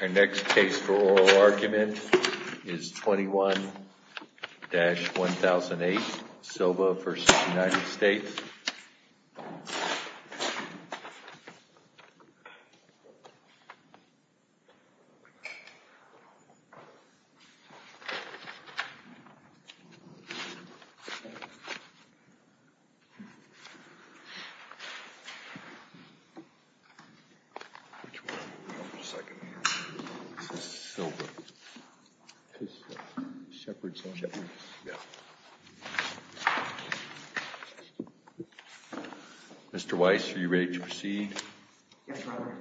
Our next case for oral argument is 21-1008, Silva v. United States. Mr. Weiss, are you ready to proceed? Yes, Your Honor.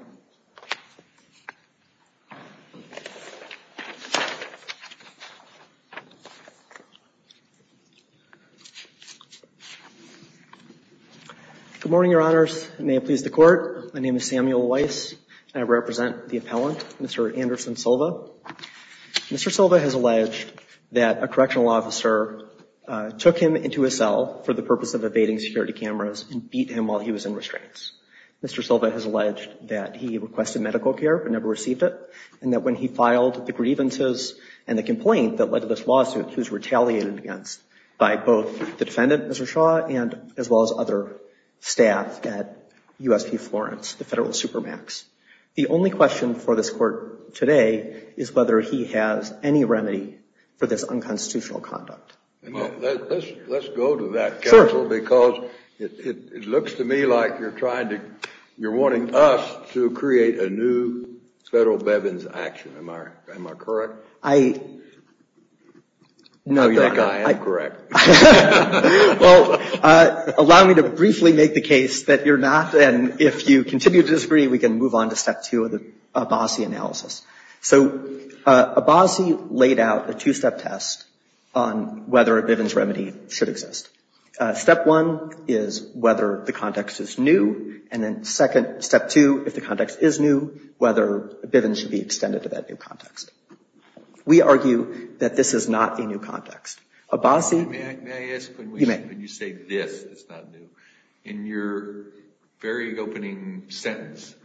Good morning, Your Honors. May it please the Court. My name is Samuel Weiss and I represent the appellant, Mr. Anderson Silva. Mr. Silva has alleged that a correctional officer took him into his cell for the purpose of evading security cameras and beat him while he was in restraints. Mr. Silva has alleged that he requested medical care but never received it, and that when he filed the grievances and the complaint that led to this lawsuit, he was retaliated against by both the defendant, Mr. Shaw, as well as other staff at USP Florence, the federal supermax. The only question for this Court today is whether he has any remedy for this unconstitutional conduct. Let's go to that counsel because it looks to me like you're wanting us to create a new federal Bevins action. Am I correct? No, Your Honor. I think I am correct. Well, allow me to briefly make the case that you're not, and if you continue to disagree, we can move on to step two of the Abbasi analysis. So Abbasi laid out a two-step test on whether a Bivens remedy should exist. Step one is whether the context is new, and then step two, if the context is new, whether a Bivens should be extended to that new context. We argue that this is not a new context. May I ask, when you say this is not new, in your very opening sentence,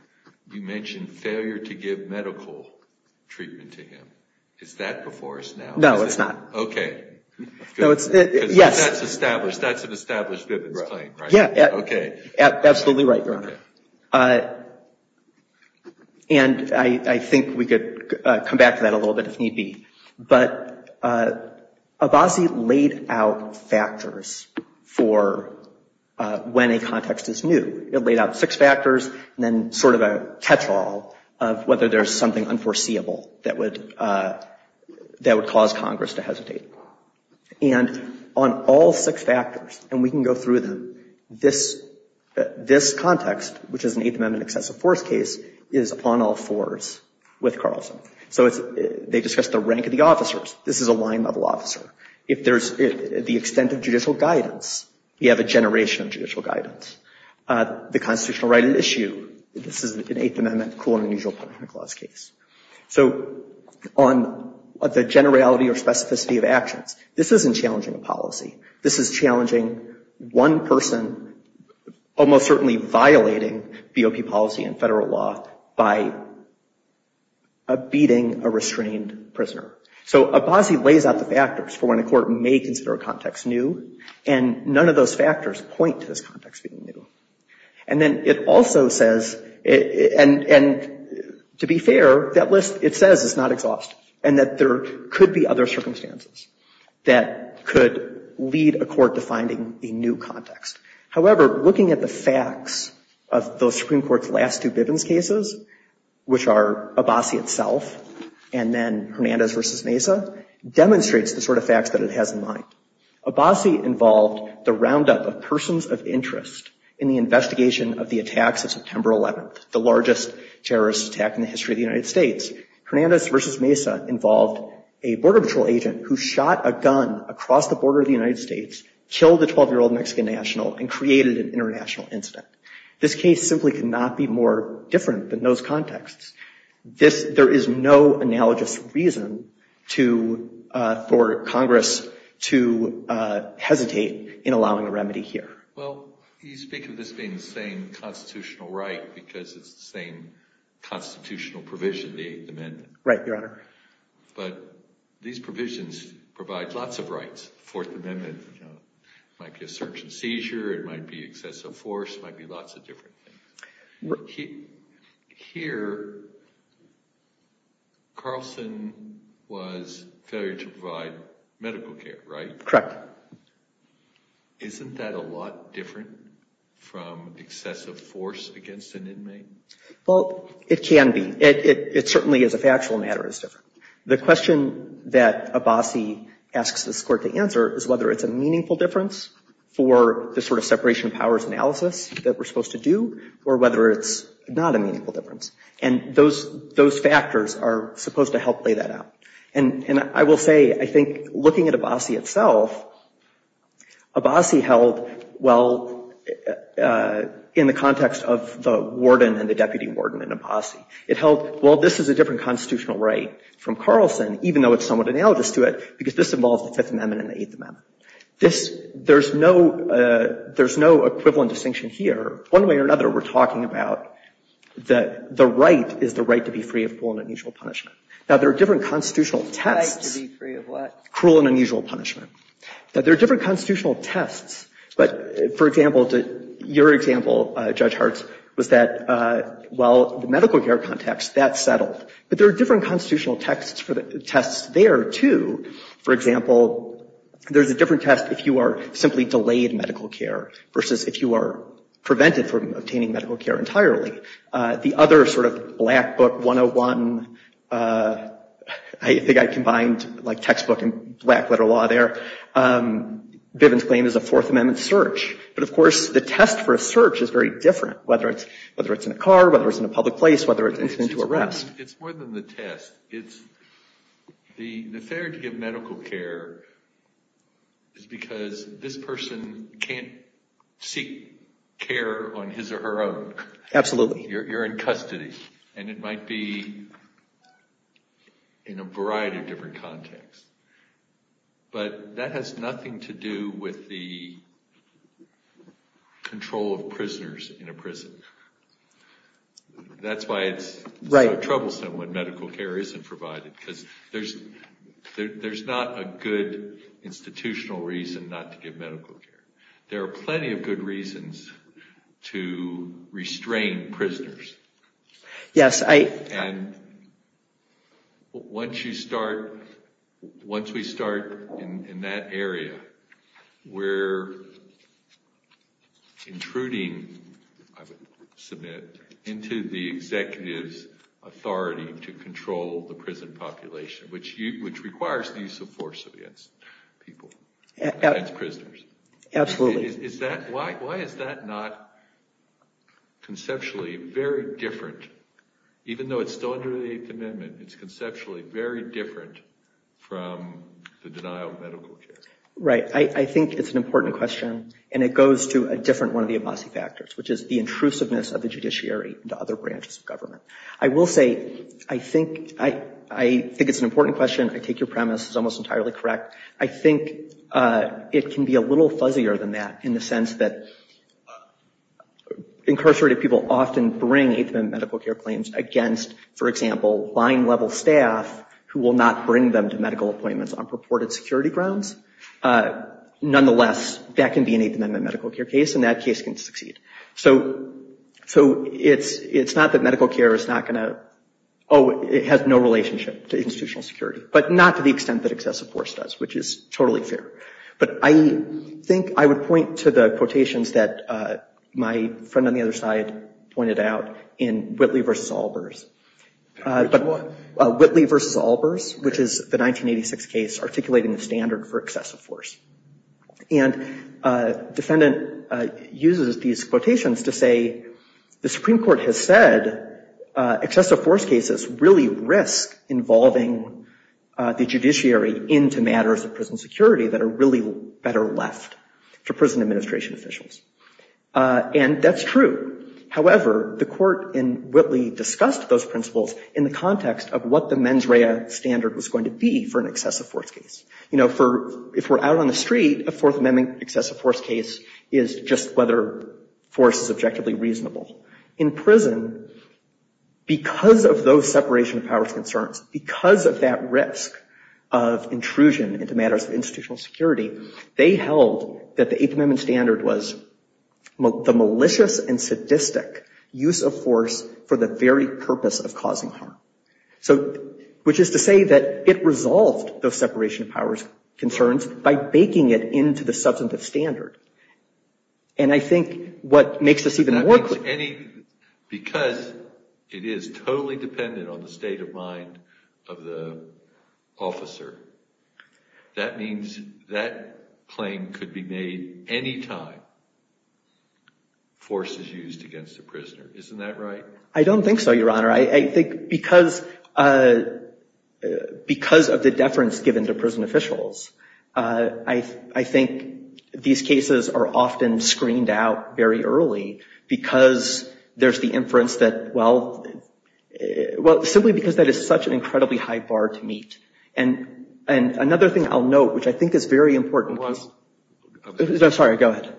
you mentioned failure to give medical treatment to him. Is that before us now? No, it's not. Okay. Yes. Because that's established. That's an established Bivens claim, right? Yeah. Okay. Absolutely right, Your Honor. And I think we could come back to that a little bit if need be. But Abbasi laid out factors for when a context is new. It laid out six factors, and then sort of a catch-all of whether there's something unforeseeable that would cause Congress to hesitate. And on all six factors, and we can go through them, this context, which is an Eighth Amendment excessive force case, is upon all fours with Carlson. So they discussed the rank of the officers. This is a line-level officer. If there's the extent of judicial guidance, you have a generation of judicial guidance. The constitutional right at issue, this is an Eighth Amendment, cool and unusual punishment clause case. So on the generality or specificity of actions, this isn't challenging a policy. This is challenging one person, almost certainly violating BOP policy and federal law by beating a restrained prisoner. So Abbasi lays out the factors for when a court may consider a context new, and none of those factors point to this context being new. And then it also says, and to be fair, that list, it says it's not exhaustive and that there could be other circumstances that could lead a court to finding a new context. However, looking at the facts of those Supreme Court's last two Bivens cases, which are Abbasi itself and then Hernandez v. Mesa, demonstrates the sort of facts that it has in mind. Abbasi involved the roundup of persons of interest in the investigation of the attacks of September 11th, the largest terrorist attack in the history of the United States. Hernandez v. Mesa involved a border patrol agent who shot a gun across the border of the United States, killed a 12-year-old Mexican national, and created an international incident. This case simply could not be more different than those contexts. There is no analogous reason for Congress to hesitate in allowing a remedy here. Well, you speak of this being the same constitutional right because it's the same constitutional provision, the Eighth Amendment. Right, Your Honor. But these provisions provide lots of rights. The Fourth Amendment might be a search and seizure, it might be excessive force, it might be lots of different things. Here, Carlson was failure to provide medical care, right? Correct. Isn't that a lot different from excessive force against an inmate? Well, it can be. It certainly, as a factual matter, is different. The question that Abbasi asks this Court to answer is whether it's a meaningful difference for the sort of separation of powers analysis that we're supposed to do, or whether it's not a meaningful difference. And those factors are supposed to help lay that out. And I will say, I think, looking at Abbasi itself, Abbasi held, well, in the context of the warden and the deputy warden in Abbasi, it held, well, this is a different constitutional right from Carlson, even though it's somewhat analogous to it, because this involves the Fifth Amendment and the Eighth Amendment. There's no equivalent distinction here. One way or another, we're talking about that the right is the right to be free of cruel and unusual punishment. Now, there are different constitutional tests. Right to be free of what? Cruel and unusual punishment. Now, there are different constitutional tests. But, for example, your example, Judge Hart, was that, well, the medical care context, that's settled. But there are different constitutional tests there, too. For example, there's a different test if you are simply delayed medical care versus if you are prevented from obtaining medical care entirely. The other sort of black book 101, I think I combined like textbook and black letter law there, Bivens' claim is a Fourth Amendment search. But, of course, the test for a search is very different, whether it's in a car, whether it's in a public place, whether it's an incident to arrest. It's more than the test. The failure to give medical care is because this person can't seek care on his or her own. Absolutely. You're in custody, and it might be in a variety of different contexts. But that has nothing to do with the control of prisoners in a prison. That's why it's troublesome when medical care isn't provided, because there's not a good institutional reason not to give medical care. There are plenty of good reasons to restrain prisoners. Yes. And once we start in that area, we're intruding, I would submit, into the executive's authority to control the prison population, which requires the use of force against people, against prisoners. Absolutely. Why is that not conceptually very different? Even though it's still under the Eighth Amendment, it's conceptually very different from the denial of medical care. Right. I think it's an important question, and it goes to a different one of the Abbasi factors, which is the intrusiveness of the judiciary into other branches of government. I will say, I think it's an important question. I take your premise. It's almost entirely correct. I think it can be a little fuzzier than that, in the sense that incarcerated people often bring Eighth Amendment medical care claims against, for example, line-level staff who will not bring them to medical appointments on purported security grounds. Nonetheless, that can be an Eighth Amendment medical care case, and that case can succeed. So it's not that medical care has no relationship to institutional security, but not to the extent that excessive force does, which is totally fair. But I think I would point to the quotations that my friend on the other side pointed out in Whitley v. Albers. Whitley v. Albers, which is the 1986 case articulating the standard for excessive force. And defendant uses these quotations to say, the Supreme Court has said excessive force cases really risk involving the judiciary into matters of prison security that are really better left to prison administration officials. And that's true. However, the court in Whitley discussed those principles in the context of what the mens rea standard was going to be for an excessive force case. You know, if we're out on the street, a Fourth Amendment excessive force case is just whether force is objectively reasonable. In prison, because of those separation of powers concerns, because of that risk of intrusion into matters of institutional security, they held that the Eighth Amendment standard was the malicious and sadistic use of force for the very purpose of causing harm. So, which is to say that it resolved those separation of powers concerns by baking it into the substantive standard. And I think what makes this even more clear. Because it is totally dependent on the state of mind of the officer, that means that claim could be made any time force is used against a prisoner. Isn't that right? I don't think so, Your Honor. I think because of the deference given to prison officials, I think these cases are often screened out very early because there's the inference that, well, simply because that is such an incredibly high bar to meet. And another thing I'll note, which I think is very important. I'm sorry. Go ahead.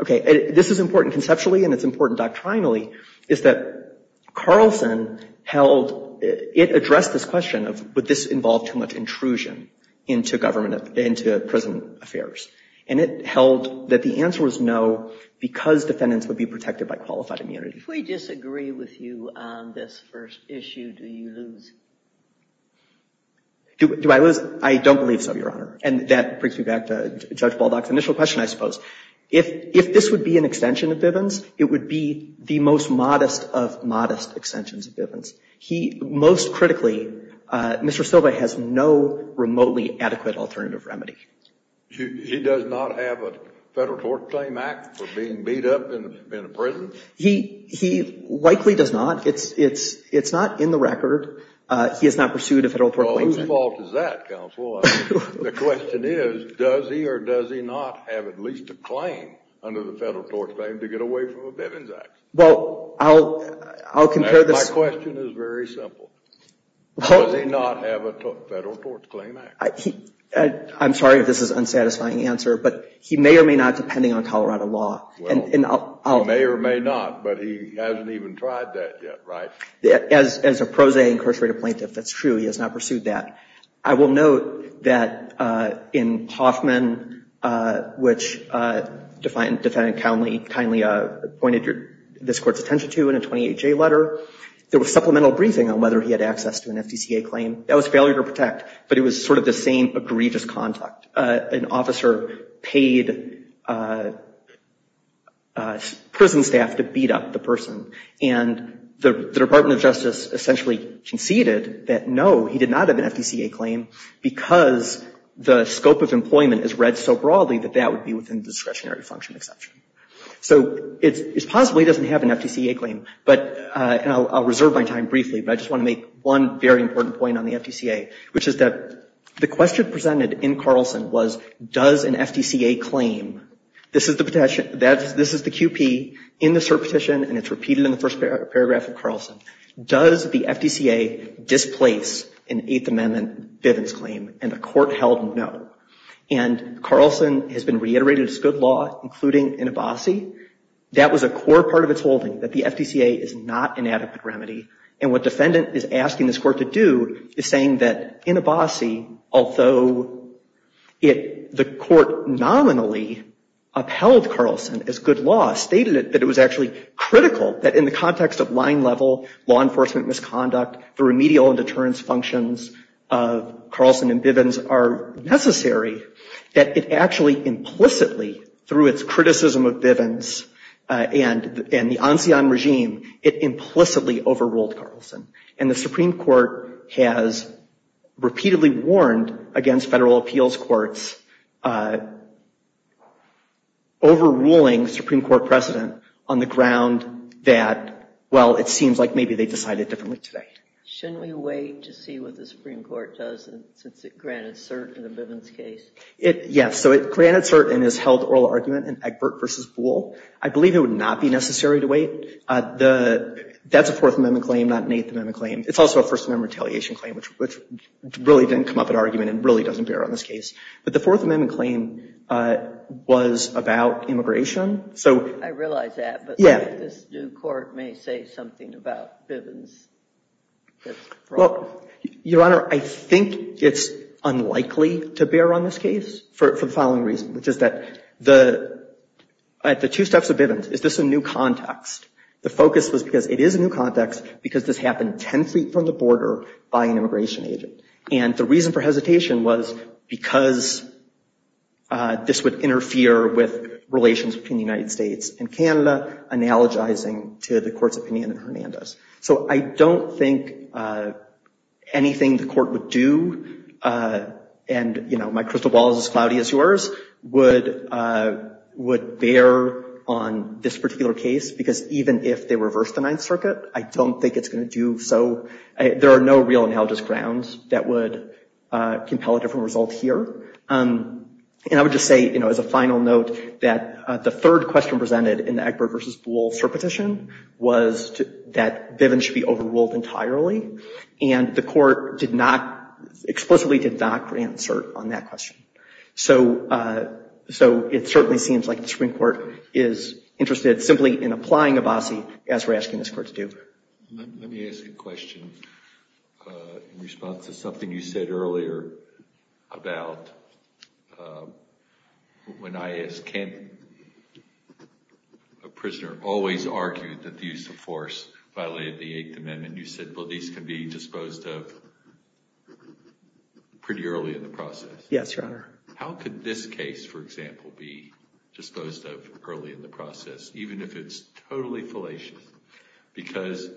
Okay, this is important conceptually and it's important doctrinally, is that Carlson held, it addressed this question of would this involve too much intrusion into government, into prison affairs. And it held that the answer was no because defendants would be protected by qualified immunity. If we disagree with you on this first issue, do you lose? Do I lose? I don't believe so, Your Honor. And that brings me back to Judge Baldock's initial question, I suppose. If this would be an extension of Bivens, it would be the most modest of modest extensions of Bivens. He most critically, Mr. Silva has no remotely adequate alternative remedy. He does not have a federal tort claim act for being beat up in a prison? He likely does not. It's not in the record. He has not pursued a federal tort claim. Well, whose fault is that, counsel? The question is, does he or does he not have at least a claim under the federal tort claim to get away from a Bivens act? Well, I'll compare this. My question is very simple. Does he not have a federal tort claim act? I'm sorry if this is an unsatisfying answer, but he may or may not depending on Colorado law. Well, he may or may not, but he hasn't even tried that yet, right? As a pro se incarcerated plaintiff, that's true. He has not pursued that. I will note that in Hoffman, which defendant kindly pointed this court's attention to in a 28-J letter, there was supplemental briefing on whether he had access to an FDCA claim. That was failure to protect, but it was sort of the same egregious conduct. An officer paid prison staff to beat up the person. And the Department of Justice essentially conceded that, no, he did not have an FDCA claim, because the scope of employment is read so broadly that that would be within the discretionary function exception. So it's possible he doesn't have an FDCA claim. And I'll reserve my time briefly, but I just want to make one very important point on the FDCA, which is that the question presented in Carlson was, does an FDCA claim? This is the QP in the cert petition, and it's repeated in the first paragraph of Carlson. Does the FDCA displace an Eighth Amendment Bivens claim? And the court held no. And Carlson has been reiterating this good law, including in Abbasi. That was a core part of its holding, that the FDCA is not an adequate remedy. And what defendant is asking this court to do is saying that in Abbasi, although the court nominally upheld Carlson as good law, stated that it was actually critical that in the context of line level law enforcement misconduct, the remedial and deterrence functions of Carlson and Bivens are necessary, that it actually implicitly, through its criticism of Bivens and the Ancien Regime, it implicitly overruled Carlson. And the Supreme Court has repeatedly warned against federal appeals courts overruling Supreme Court precedent on the ground that, well, it seems like maybe they decided differently today. Shouldn't we wait to see what the Supreme Court does since it granted cert in the Bivens case? Yes, so it granted cert and has held oral argument in Egbert v. Boole. I believe it would not be necessary to wait. That's a Fourth Amendment claim, not an Eighth Amendment claim. It's also a First Amendment retaliation claim, which really didn't come up in argument and really doesn't bear on this case. But the Fourth Amendment claim was about immigration. I realize that, but this new court may say something about Bivens that's wrong. Well, Your Honor, I think it's unlikely to bear on this case for the following reason, which is that the two steps of Bivens. First, is this a new context? The focus was because it is a new context because this happened 10 feet from the border by an immigration agent. And the reason for hesitation was because this would interfere with relations between the United States and Canada, analogizing to the court's opinion in Hernandez. So I don't think anything the court would do and, you know, my crystal ball is as cloudy as yours, would bear on this particular case. Because even if they reverse the Ninth Circuit, I don't think it's going to do so. There are no real analogous grounds that would compel a different result here. And I would just say, you know, as a final note, that the third question presented in the Egbert v. Boole cert petition was that Bivens should be overruled entirely. And the court explicitly did not answer on that question. So it certainly seems like the Supreme Court is interested simply in applying Abbasi as we're asking this court to do. Let me ask a question in response to something you said earlier about when I asked, can a prisoner always argue that the use of force violated the Eighth Amendment? And you said, well, these can be disposed of pretty early in the process. Yes, Your Honor. How could this case, for example, be disposed of early in the process, even if it's totally fallacious? Because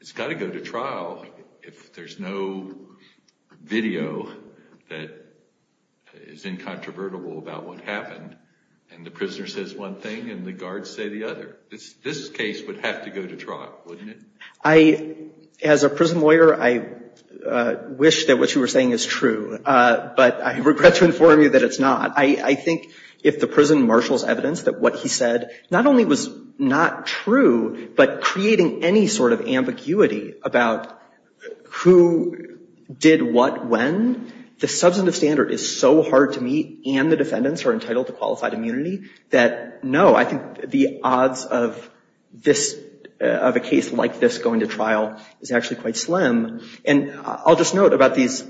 it's got to go to trial if there's no video that is incontrovertible about what happened and the prisoner says one thing and the guards say the other. This case would have to go to trial, wouldn't it? I, as a prison lawyer, I wish that what you were saying is true, but I regret to inform you that it's not. I think if the prison marshals evidence that what he said not only was not true, but creating any sort of ambiguity about who did what when, the substantive standard is so hard to meet and the defendants are entitled to qualified immunity, that no, I think the odds of this, of a case like this going to trial is actually quite slim. And I'll just note about these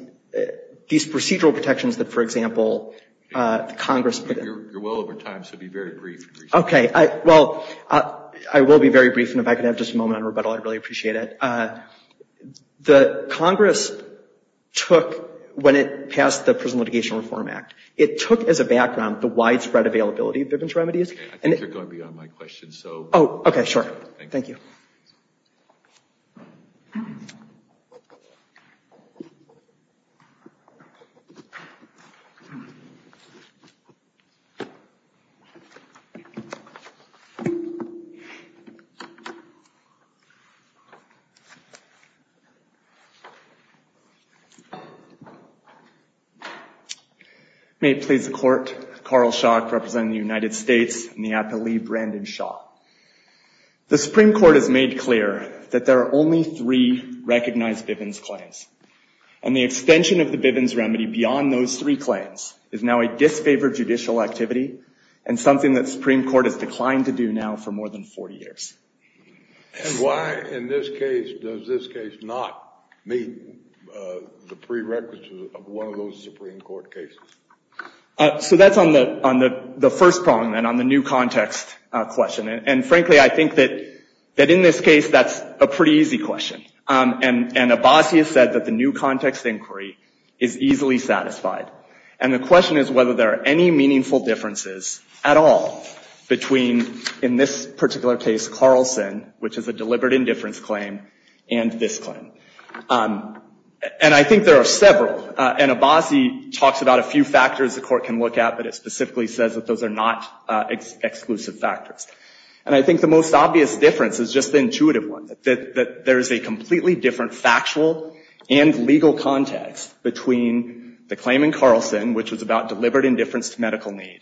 procedural protections that, for example, Congress put in. You're well over time, so be very brief. Okay. Well, I will be very brief, and if I could have just a moment on rebuttal, I'd really appreciate it. The Congress took, when it passed the Prison Litigation Reform Act, it took as a background the widespread availability of different remedies. Okay, I think you're going beyond my question, so. Oh, okay, sure. Thank you. Thank you. May it please the Court, Carl Schock representing the United States and the appellee, Brandon Shaw. The Supreme Court has made clear that there are only three recognized Bivens claims, and the extension of the Bivens remedy beyond those three claims is now a disfavored judicial activity and something that the Supreme Court has declined to do now for more than 40 years. And why, in this case, does this case not meet the prerequisites of one of those Supreme Court cases? So that's on the first problem, then, on the new context question. And, frankly, I think that in this case that's a pretty easy question. And Abbasi has said that the new context inquiry is easily satisfied. And the question is whether there are any meaningful differences at all between, in this particular case, Carlson, which is a deliberate indifference claim, and this claim. And I think there are several. And Abbasi talks about a few factors the Court can look at, but it specifically says that those are not exclusive factors. And I think the most obvious difference is just the intuitive one, that there is a completely different factual and legal context between the claim in Carlson, which was about deliberate indifference to medical need,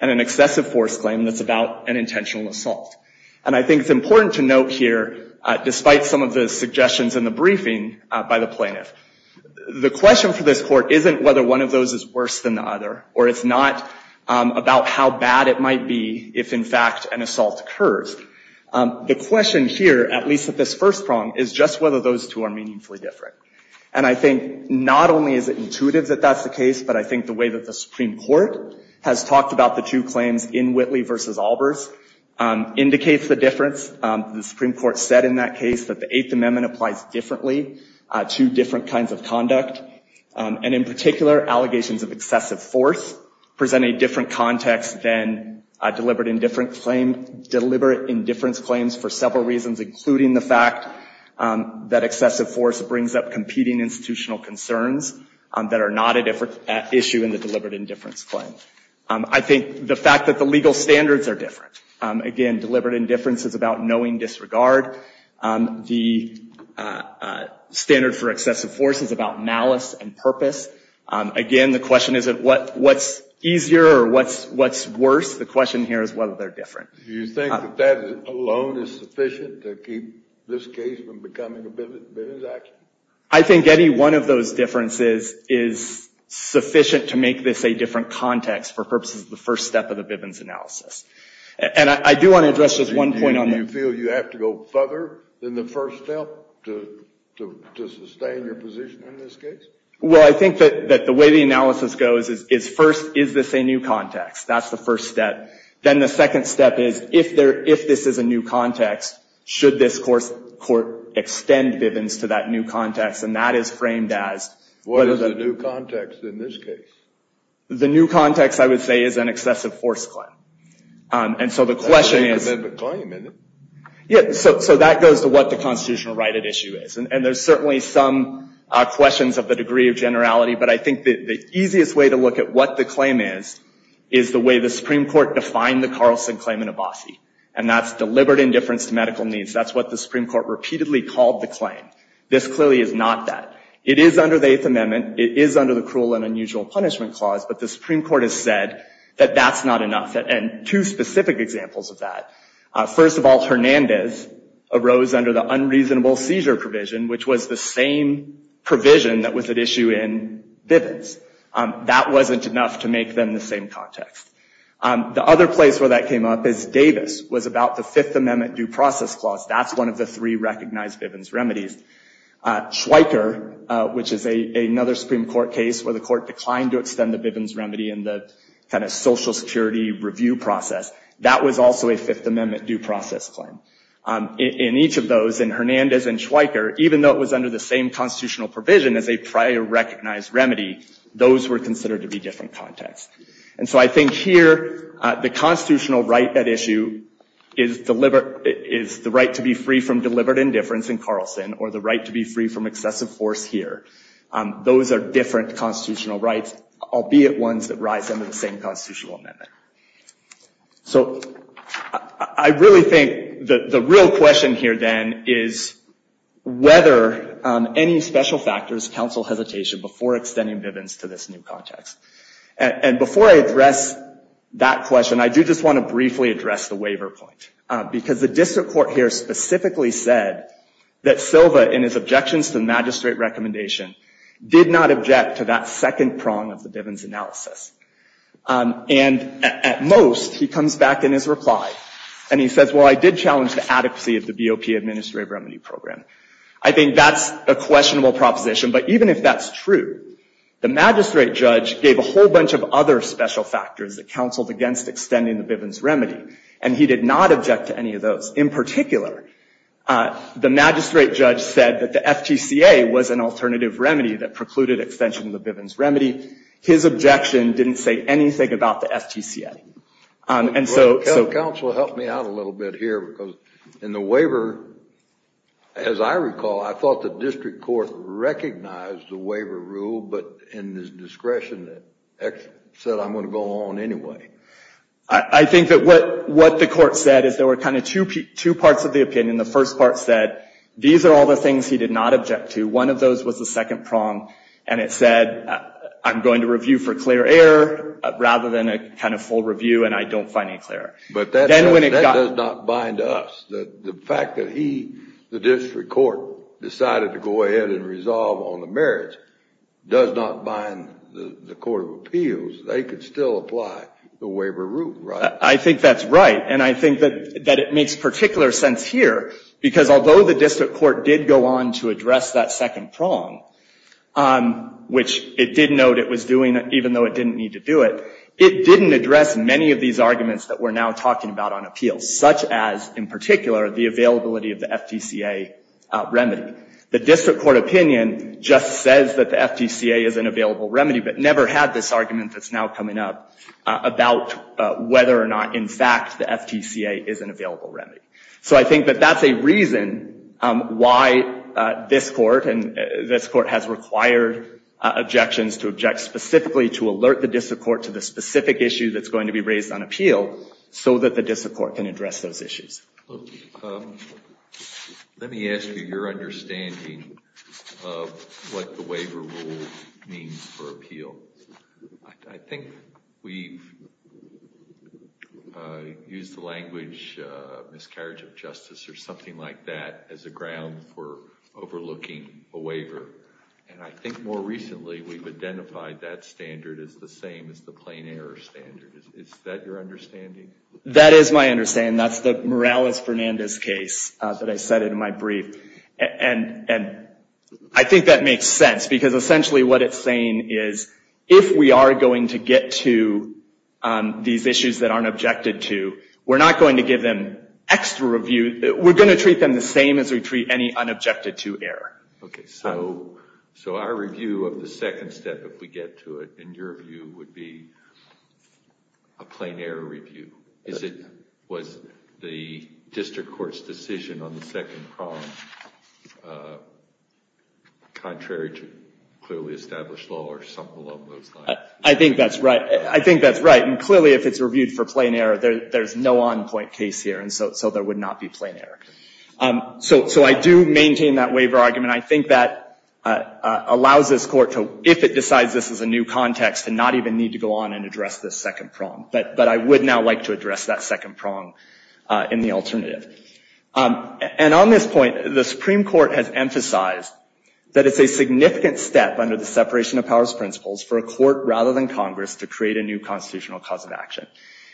and an excessive force claim that's about an intentional assault. And I think it's important to note here, despite some of the suggestions in the briefing by the plaintiff, the question for this Court isn't whether one of those is worse than the other, or it's not about how bad it might be if, in fact, an assault occurs. The question here, at least at this first prong, is just whether those two are meaningfully different. And I think not only is it intuitive that that's the case, but I think the way that the Supreme Court has talked about the two claims in Whitley v. Albers indicates the difference. The Supreme Court said in that case that the Eighth Amendment applies differently to different kinds of conduct. And in particular, allegations of excessive force present a different context than deliberate indifference claims for several reasons, including the fact that excessive force brings up competing institutional concerns that are not an issue in the deliberate indifference claim. I think the fact that the legal standards are different. Again, deliberate indifference is about knowing disregard. The standard for excessive force is about malice and purpose. Again, the question isn't what's easier or what's worse. The question here is whether they're different. Do you think that that alone is sufficient to keep this case from becoming a Bivens action? I think any one of those differences is sufficient to make this a different context for purposes of the first step of the Bivens analysis. And I do want to address just one point on that. Do you feel you have to go further than the first step to sustain your position in this case? Well, I think that the way the analysis goes is, first, is this a new context? That's the first step. Then the second step is, if this is a new context, should this court extend Bivens to that new context? And that is framed as— What is the new context in this case? The new context, I would say, is an excessive force claim. And so the question is— That's a new amendment claim, isn't it? Yeah, so that goes to what the constitutional right at issue is. And there's certainly some questions of the degree of generality, but I think the easiest way to look at what the claim is is the way the Supreme Court defined the Carlson claim in Abbasi. And that's deliberate indifference to medical needs. That's what the Supreme Court repeatedly called the claim. This clearly is not that. It is under the Eighth Amendment. It is under the Cruel and Unusual Punishment Clause. But the Supreme Court has said that that's not enough. And two specific examples of that. First of all, Hernandez arose under the unreasonable seizure provision, which was the same provision that was at issue in Bivens. That wasn't enough to make them the same context. The other place where that came up is Davis, was about the Fifth Amendment due process clause. That's one of the three recognized Bivens remedies. Schweiker, which is another Supreme Court case where the court declined to extend the Bivens remedy in the kind of Social Security review process. That was also a Fifth Amendment due process claim. In each of those, in Hernandez and Schweiker, even though it was under the same constitutional provision as a prior recognized remedy, those were considered to be different contexts. And so I think here, the constitutional right at issue is the right to be free from deliberate indifference in Carlson, or the right to be free from excessive force here. Those are different constitutional rights, albeit ones that rise under the same constitutional amendment. So I really think the real question here then is whether any special factors counsel hesitation before extending Bivens to this new context. And before I address that question, I do just want to briefly address the waiver point. Because the district court here specifically said that Silva, in his objections to the magistrate recommendation, did not object to that second prong of the Bivens analysis. And at most, he comes back in his reply, and he says, well, I did challenge the adequacy of the BOP administrative remedy program. I think that's a questionable proposition, but even if that's true, the magistrate judge gave a whole bunch of other special factors that counseled against extending the Bivens remedy, and he did not object to any of those. In particular, the magistrate judge said that the FTCA was an alternative remedy that precluded extension of the Bivens remedy. His objection didn't say anything about the FTCA. And so... Counsel, help me out a little bit here, because in the waiver, as I recall, I thought the district court recognized the waiver rule, but in this discretion that said I'm going to go on anyway. I think that what the court said is there were kind of two parts of the opinion. The first part said these are all the things he did not object to. One of those was the second prong, and it said I'm going to review for clear error rather than a kind of full review, and I don't find any clear error. But that does not bind us. The fact that he, the district court, decided to go ahead and resolve on the merits does not bind the court of appeals. They could still apply the waiver rule, right? I think that's right, and I think that it makes particular sense here, because although the district court did go on to address that second prong, which it did note it was doing, even though it didn't need to do it, it didn't address many of these arguments that we're now talking about on appeals, such as, in particular, the availability of the FTCA remedy. The district court opinion just says that the FTCA is an available remedy, but never had this argument that's now coming up about whether or not, in fact, the FTCA is an available remedy. So I think that that's a reason why this court, and this court has required objections to object specifically to alert the district court to the specific issue that's going to be raised on appeal so that the district court can address those issues. Let me ask you your understanding of what the waiver rule means for appeal. I think we've used the language miscarriage of justice or something like that as a ground for overlooking a waiver, and I think more recently we've identified that standard as the same as the plain error standard. Is that your understanding? That is my understanding. That's the Morales-Fernandez case that I cited in my brief, and I think that makes sense, because essentially what it's saying is if we are going to get to these issues that aren't objected to, we're not going to give them extra review. We're going to treat them the same as we treat any unobjected to error. Okay, so our review of the second step, if we get to it, in your view, would be a plain error review. Was the district court's decision on the second prong contrary to clearly established law or something along those lines? I think that's right. I think that's right, and clearly if it's reviewed for plain error, there's no on-point case here, and so there would not be plain error. So I do maintain that waiver argument. I think that allows this court to, if it decides this is a new context, to not even need to go on and address this second prong, but I would now like to address that second prong in the alternative. And on this point, the Supreme Court has emphasized that it's a significant step under the separation of powers principles for a court rather than Congress to create a new constitutional cause of action.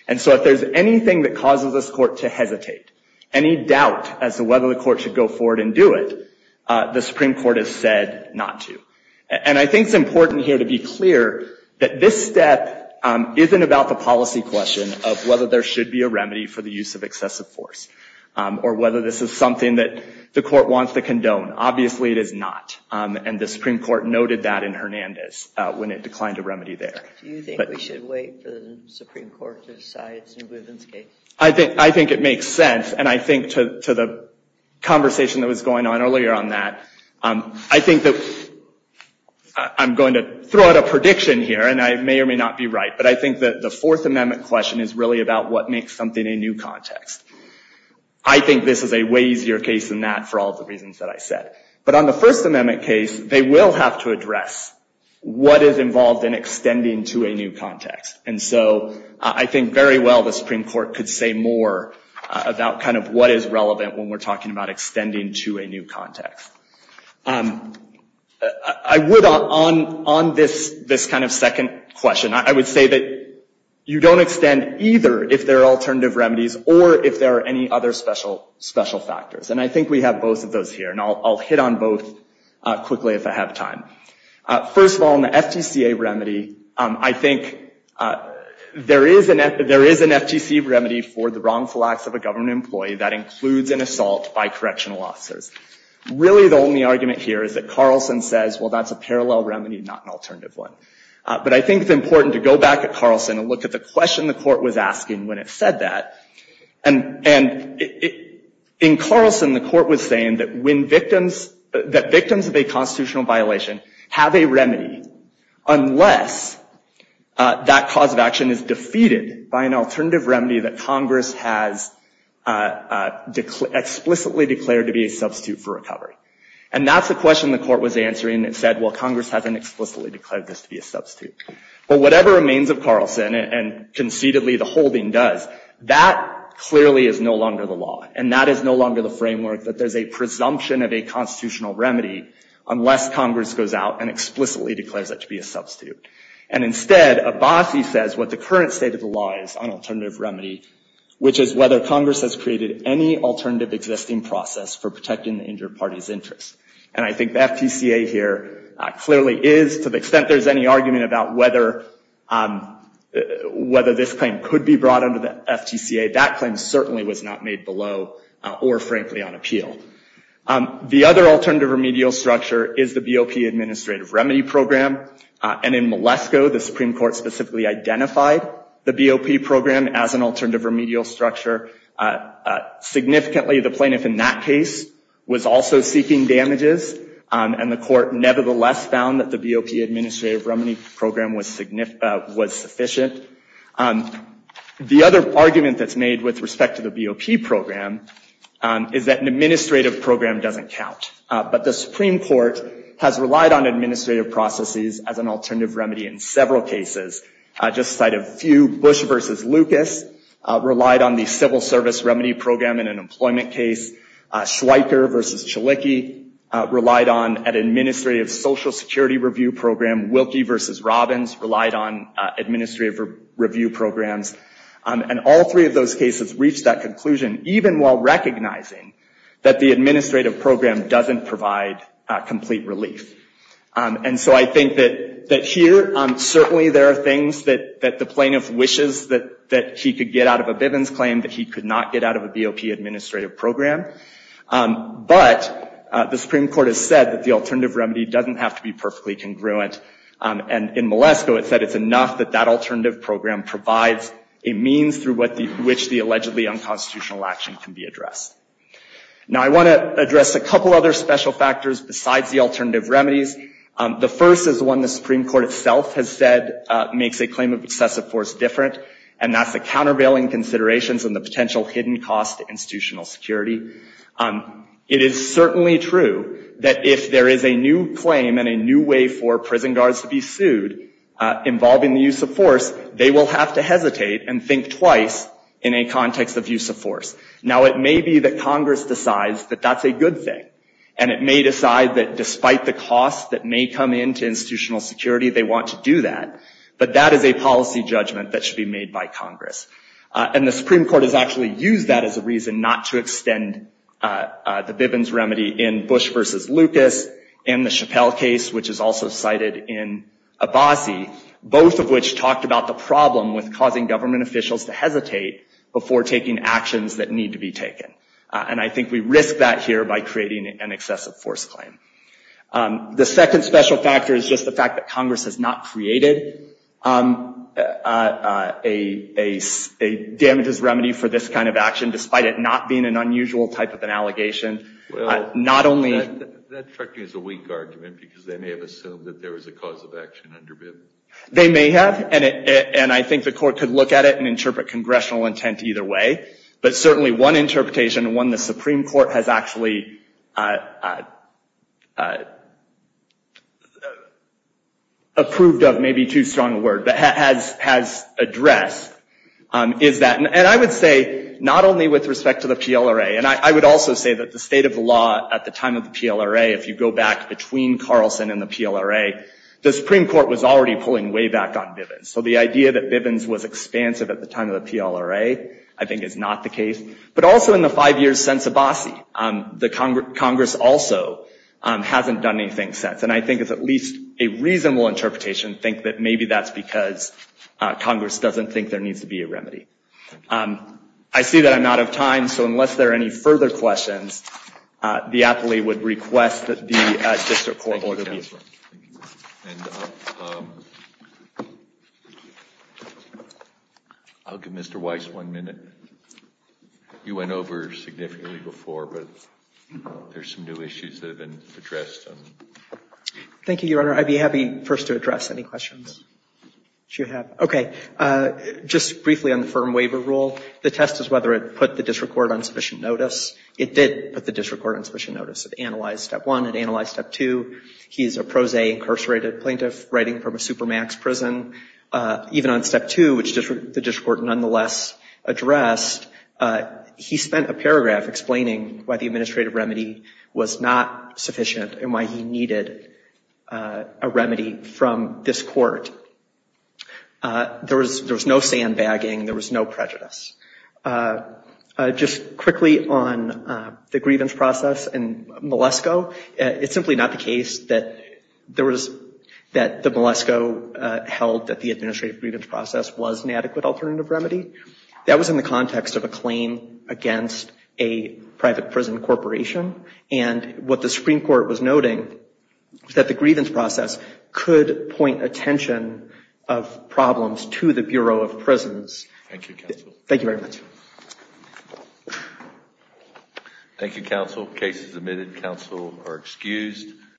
And so if there's anything that causes this court to hesitate, any doubt as to whether the court should go forward and do it, the Supreme Court has said not to. And I think it's important here to be clear that this step isn't about the policy question of whether there should be a remedy for the use of excessive force, or whether this is something that the court wants to condone. Obviously it is not, and the Supreme Court noted that in Hernandez when it declined a remedy there. Do you think we should wait for the Supreme Court to decide its new grievance case? I think it makes sense, and I think to the conversation that was going on earlier on that, I think that... I'm going to throw out a prediction here, and I may or may not be right, but I think that the Fourth Amendment question is really about what makes something a new context. I think this is a way easier case than that for all the reasons that I said. But on the First Amendment case, they will have to address what is involved in extending to a new context. And so I think very well the Supreme Court could say more about kind of what is relevant when we're talking about extending to a new context. I would, on this kind of second question, I would say that you don't extend either if there are alternative remedies or if there are any other special factors. And I think we have both of those here, and I'll hit on both quickly if I have time. First of all, in the FTCA remedy, I think there is an FTCA remedy for the wrongful acts of a government employee that includes an assault by correctional officers. Really the only argument here is that Carlson says, well, that's a parallel remedy, not an alternative one. But I think it's important to go back at Carlson and look at the question the court was asking when it said that. And in Carlson, the court was saying that victims of a constitutional violation have a remedy unless that cause of action is defeated by an alternative remedy that Congress has explicitly declared to be a substitute for recovery. And that's the question the court was answering and said, well, Congress hasn't explicitly declared this to be a substitute. But whatever remains of Carlson and concededly the holding does, that clearly is no longer the law. And that is no longer the framework that there's a presumption of a constitutional remedy unless Congress goes out and explicitly declares that to be a substitute. And instead, Abbasi says what the current state of the law is on alternative remedy, which is whether Congress has created any alternative existing process for protecting the injured party's interests. And I think the FTCA here clearly is, to the extent there's any argument about whether this claim could be brought under the FTCA, that claim certainly was not made below or frankly on appeal. The other alternative remedial structure is the BOP administrative remedy program. And in Malesko, the Supreme Court specifically identified the BOP program as an alternative remedial structure. Significantly, the plaintiff in that case was also seeking damages and the court nevertheless found that the BOP administrative remedy program was sufficient. The other argument that's made with respect to the BOP program is that an administrative program doesn't count. But the Supreme Court has relied on administrative processes as an alternative remedy in several cases. Just to cite a few, Bush versus Lucas relied on the civil service remedy program in an employment case. Schweiker versus Chalicki relied on an administrative social security review program. Wilkie versus Robbins relied on administrative review programs. And all three of those cases reached that conclusion even while recognizing that the administrative program doesn't provide complete relief. And so I think that here, certainly there are things that the plaintiff wishes that he could get out of a Bivens claim that he could not get out of a BOP administrative program. But the Supreme Court has said that the alternative remedy doesn't have to be perfectly congruent. And in Malesko it said it's enough that that alternative program provides a means through which the allegedly unconstitutional action can be addressed. Now I want to address a couple other special factors besides the alternative remedies. The first is one the Supreme Court itself has said makes a claim of excessive force different and that's the countervailing considerations and the potential hidden cost to institutional security. It is certainly true that if there is a new claim and a new way for prison guards to be sued involving the use of force, they will have to hesitate and think twice in a context of use of force. Now it may be that Congress decides that that's a good thing. And it may decide that despite the cost that may come into institutional security they want to do that. But that is a policy judgment that should be made by Congress. And the Supreme Court has actually used that as a reason not to extend the Bivens remedy in Bush versus Lucas and the Chappelle case which is also cited in Abbasi, both of which talked about the problem with causing government officials to hesitate before taking actions that need to be taken. And I think we risk that here by creating an excessive force claim. The second special factor is just the fact that Congress has not created a damages remedy for this kind of action despite it not being an unusual type of an allegation. Well, that struck me as a weak argument because they may have assumed that there was a cause of action under Bivens. They may have. And I think the Court could look at it and interpret congressional intent either way. But certainly one interpretation, one the Supreme Court has actually approved of, maybe too strong a word, but has addressed, is that, and I would say, not only with respect to the PLRA, and I would also say that the state of the law at the time of the PLRA, if you go back between Carlson and the PLRA, the Supreme Court was already pulling way back on Bivens. So the idea that Bivens was expansive at the time of the PLRA, I think is not the case. But also in the five years since Abbasi, Congress also hasn't done anything since. And I think it's at least a reasonable interpretation to think that maybe that's because Congress doesn't think there needs to be a remedy. I see that I'm out of time, so unless there are any further questions, the appellee would request that the District Court order be... I'll give Mr. Weiss one minute. You went over significantly before, but there's some new issues that have been addressed. Thank you, Your Honor. I'd be happy first to address any questions that you have. Okay. Just briefly on the firm waiver rule, the test is whether it put the District Court on sufficient notice. It did put the District Court on sufficient notice. It analyzed Step 1, it analyzed Step 2. He's a pro se incarcerated plaintiff writing from a supermax prison. Even on Step 2, which the District Court nonetheless addressed, he spent a paragraph explaining why the administrative remedy was not sufficient and why he needed a remedy from this Court. There was no sandbagging. There was no prejudice. Just quickly on the grievance process and Malesko, it's simply not the case that there was... that the Malesko held that the administrative grievance process was an adequate alternative remedy. That was in the context of a claim against a private prison corporation. And what the Supreme Court was noting was that the grievance process could point attention of problems to the Bureau of Prisons. Thank you, Counsel. Thank you very much. Thank you, Counsel. Case is admitted. Counsel are excused.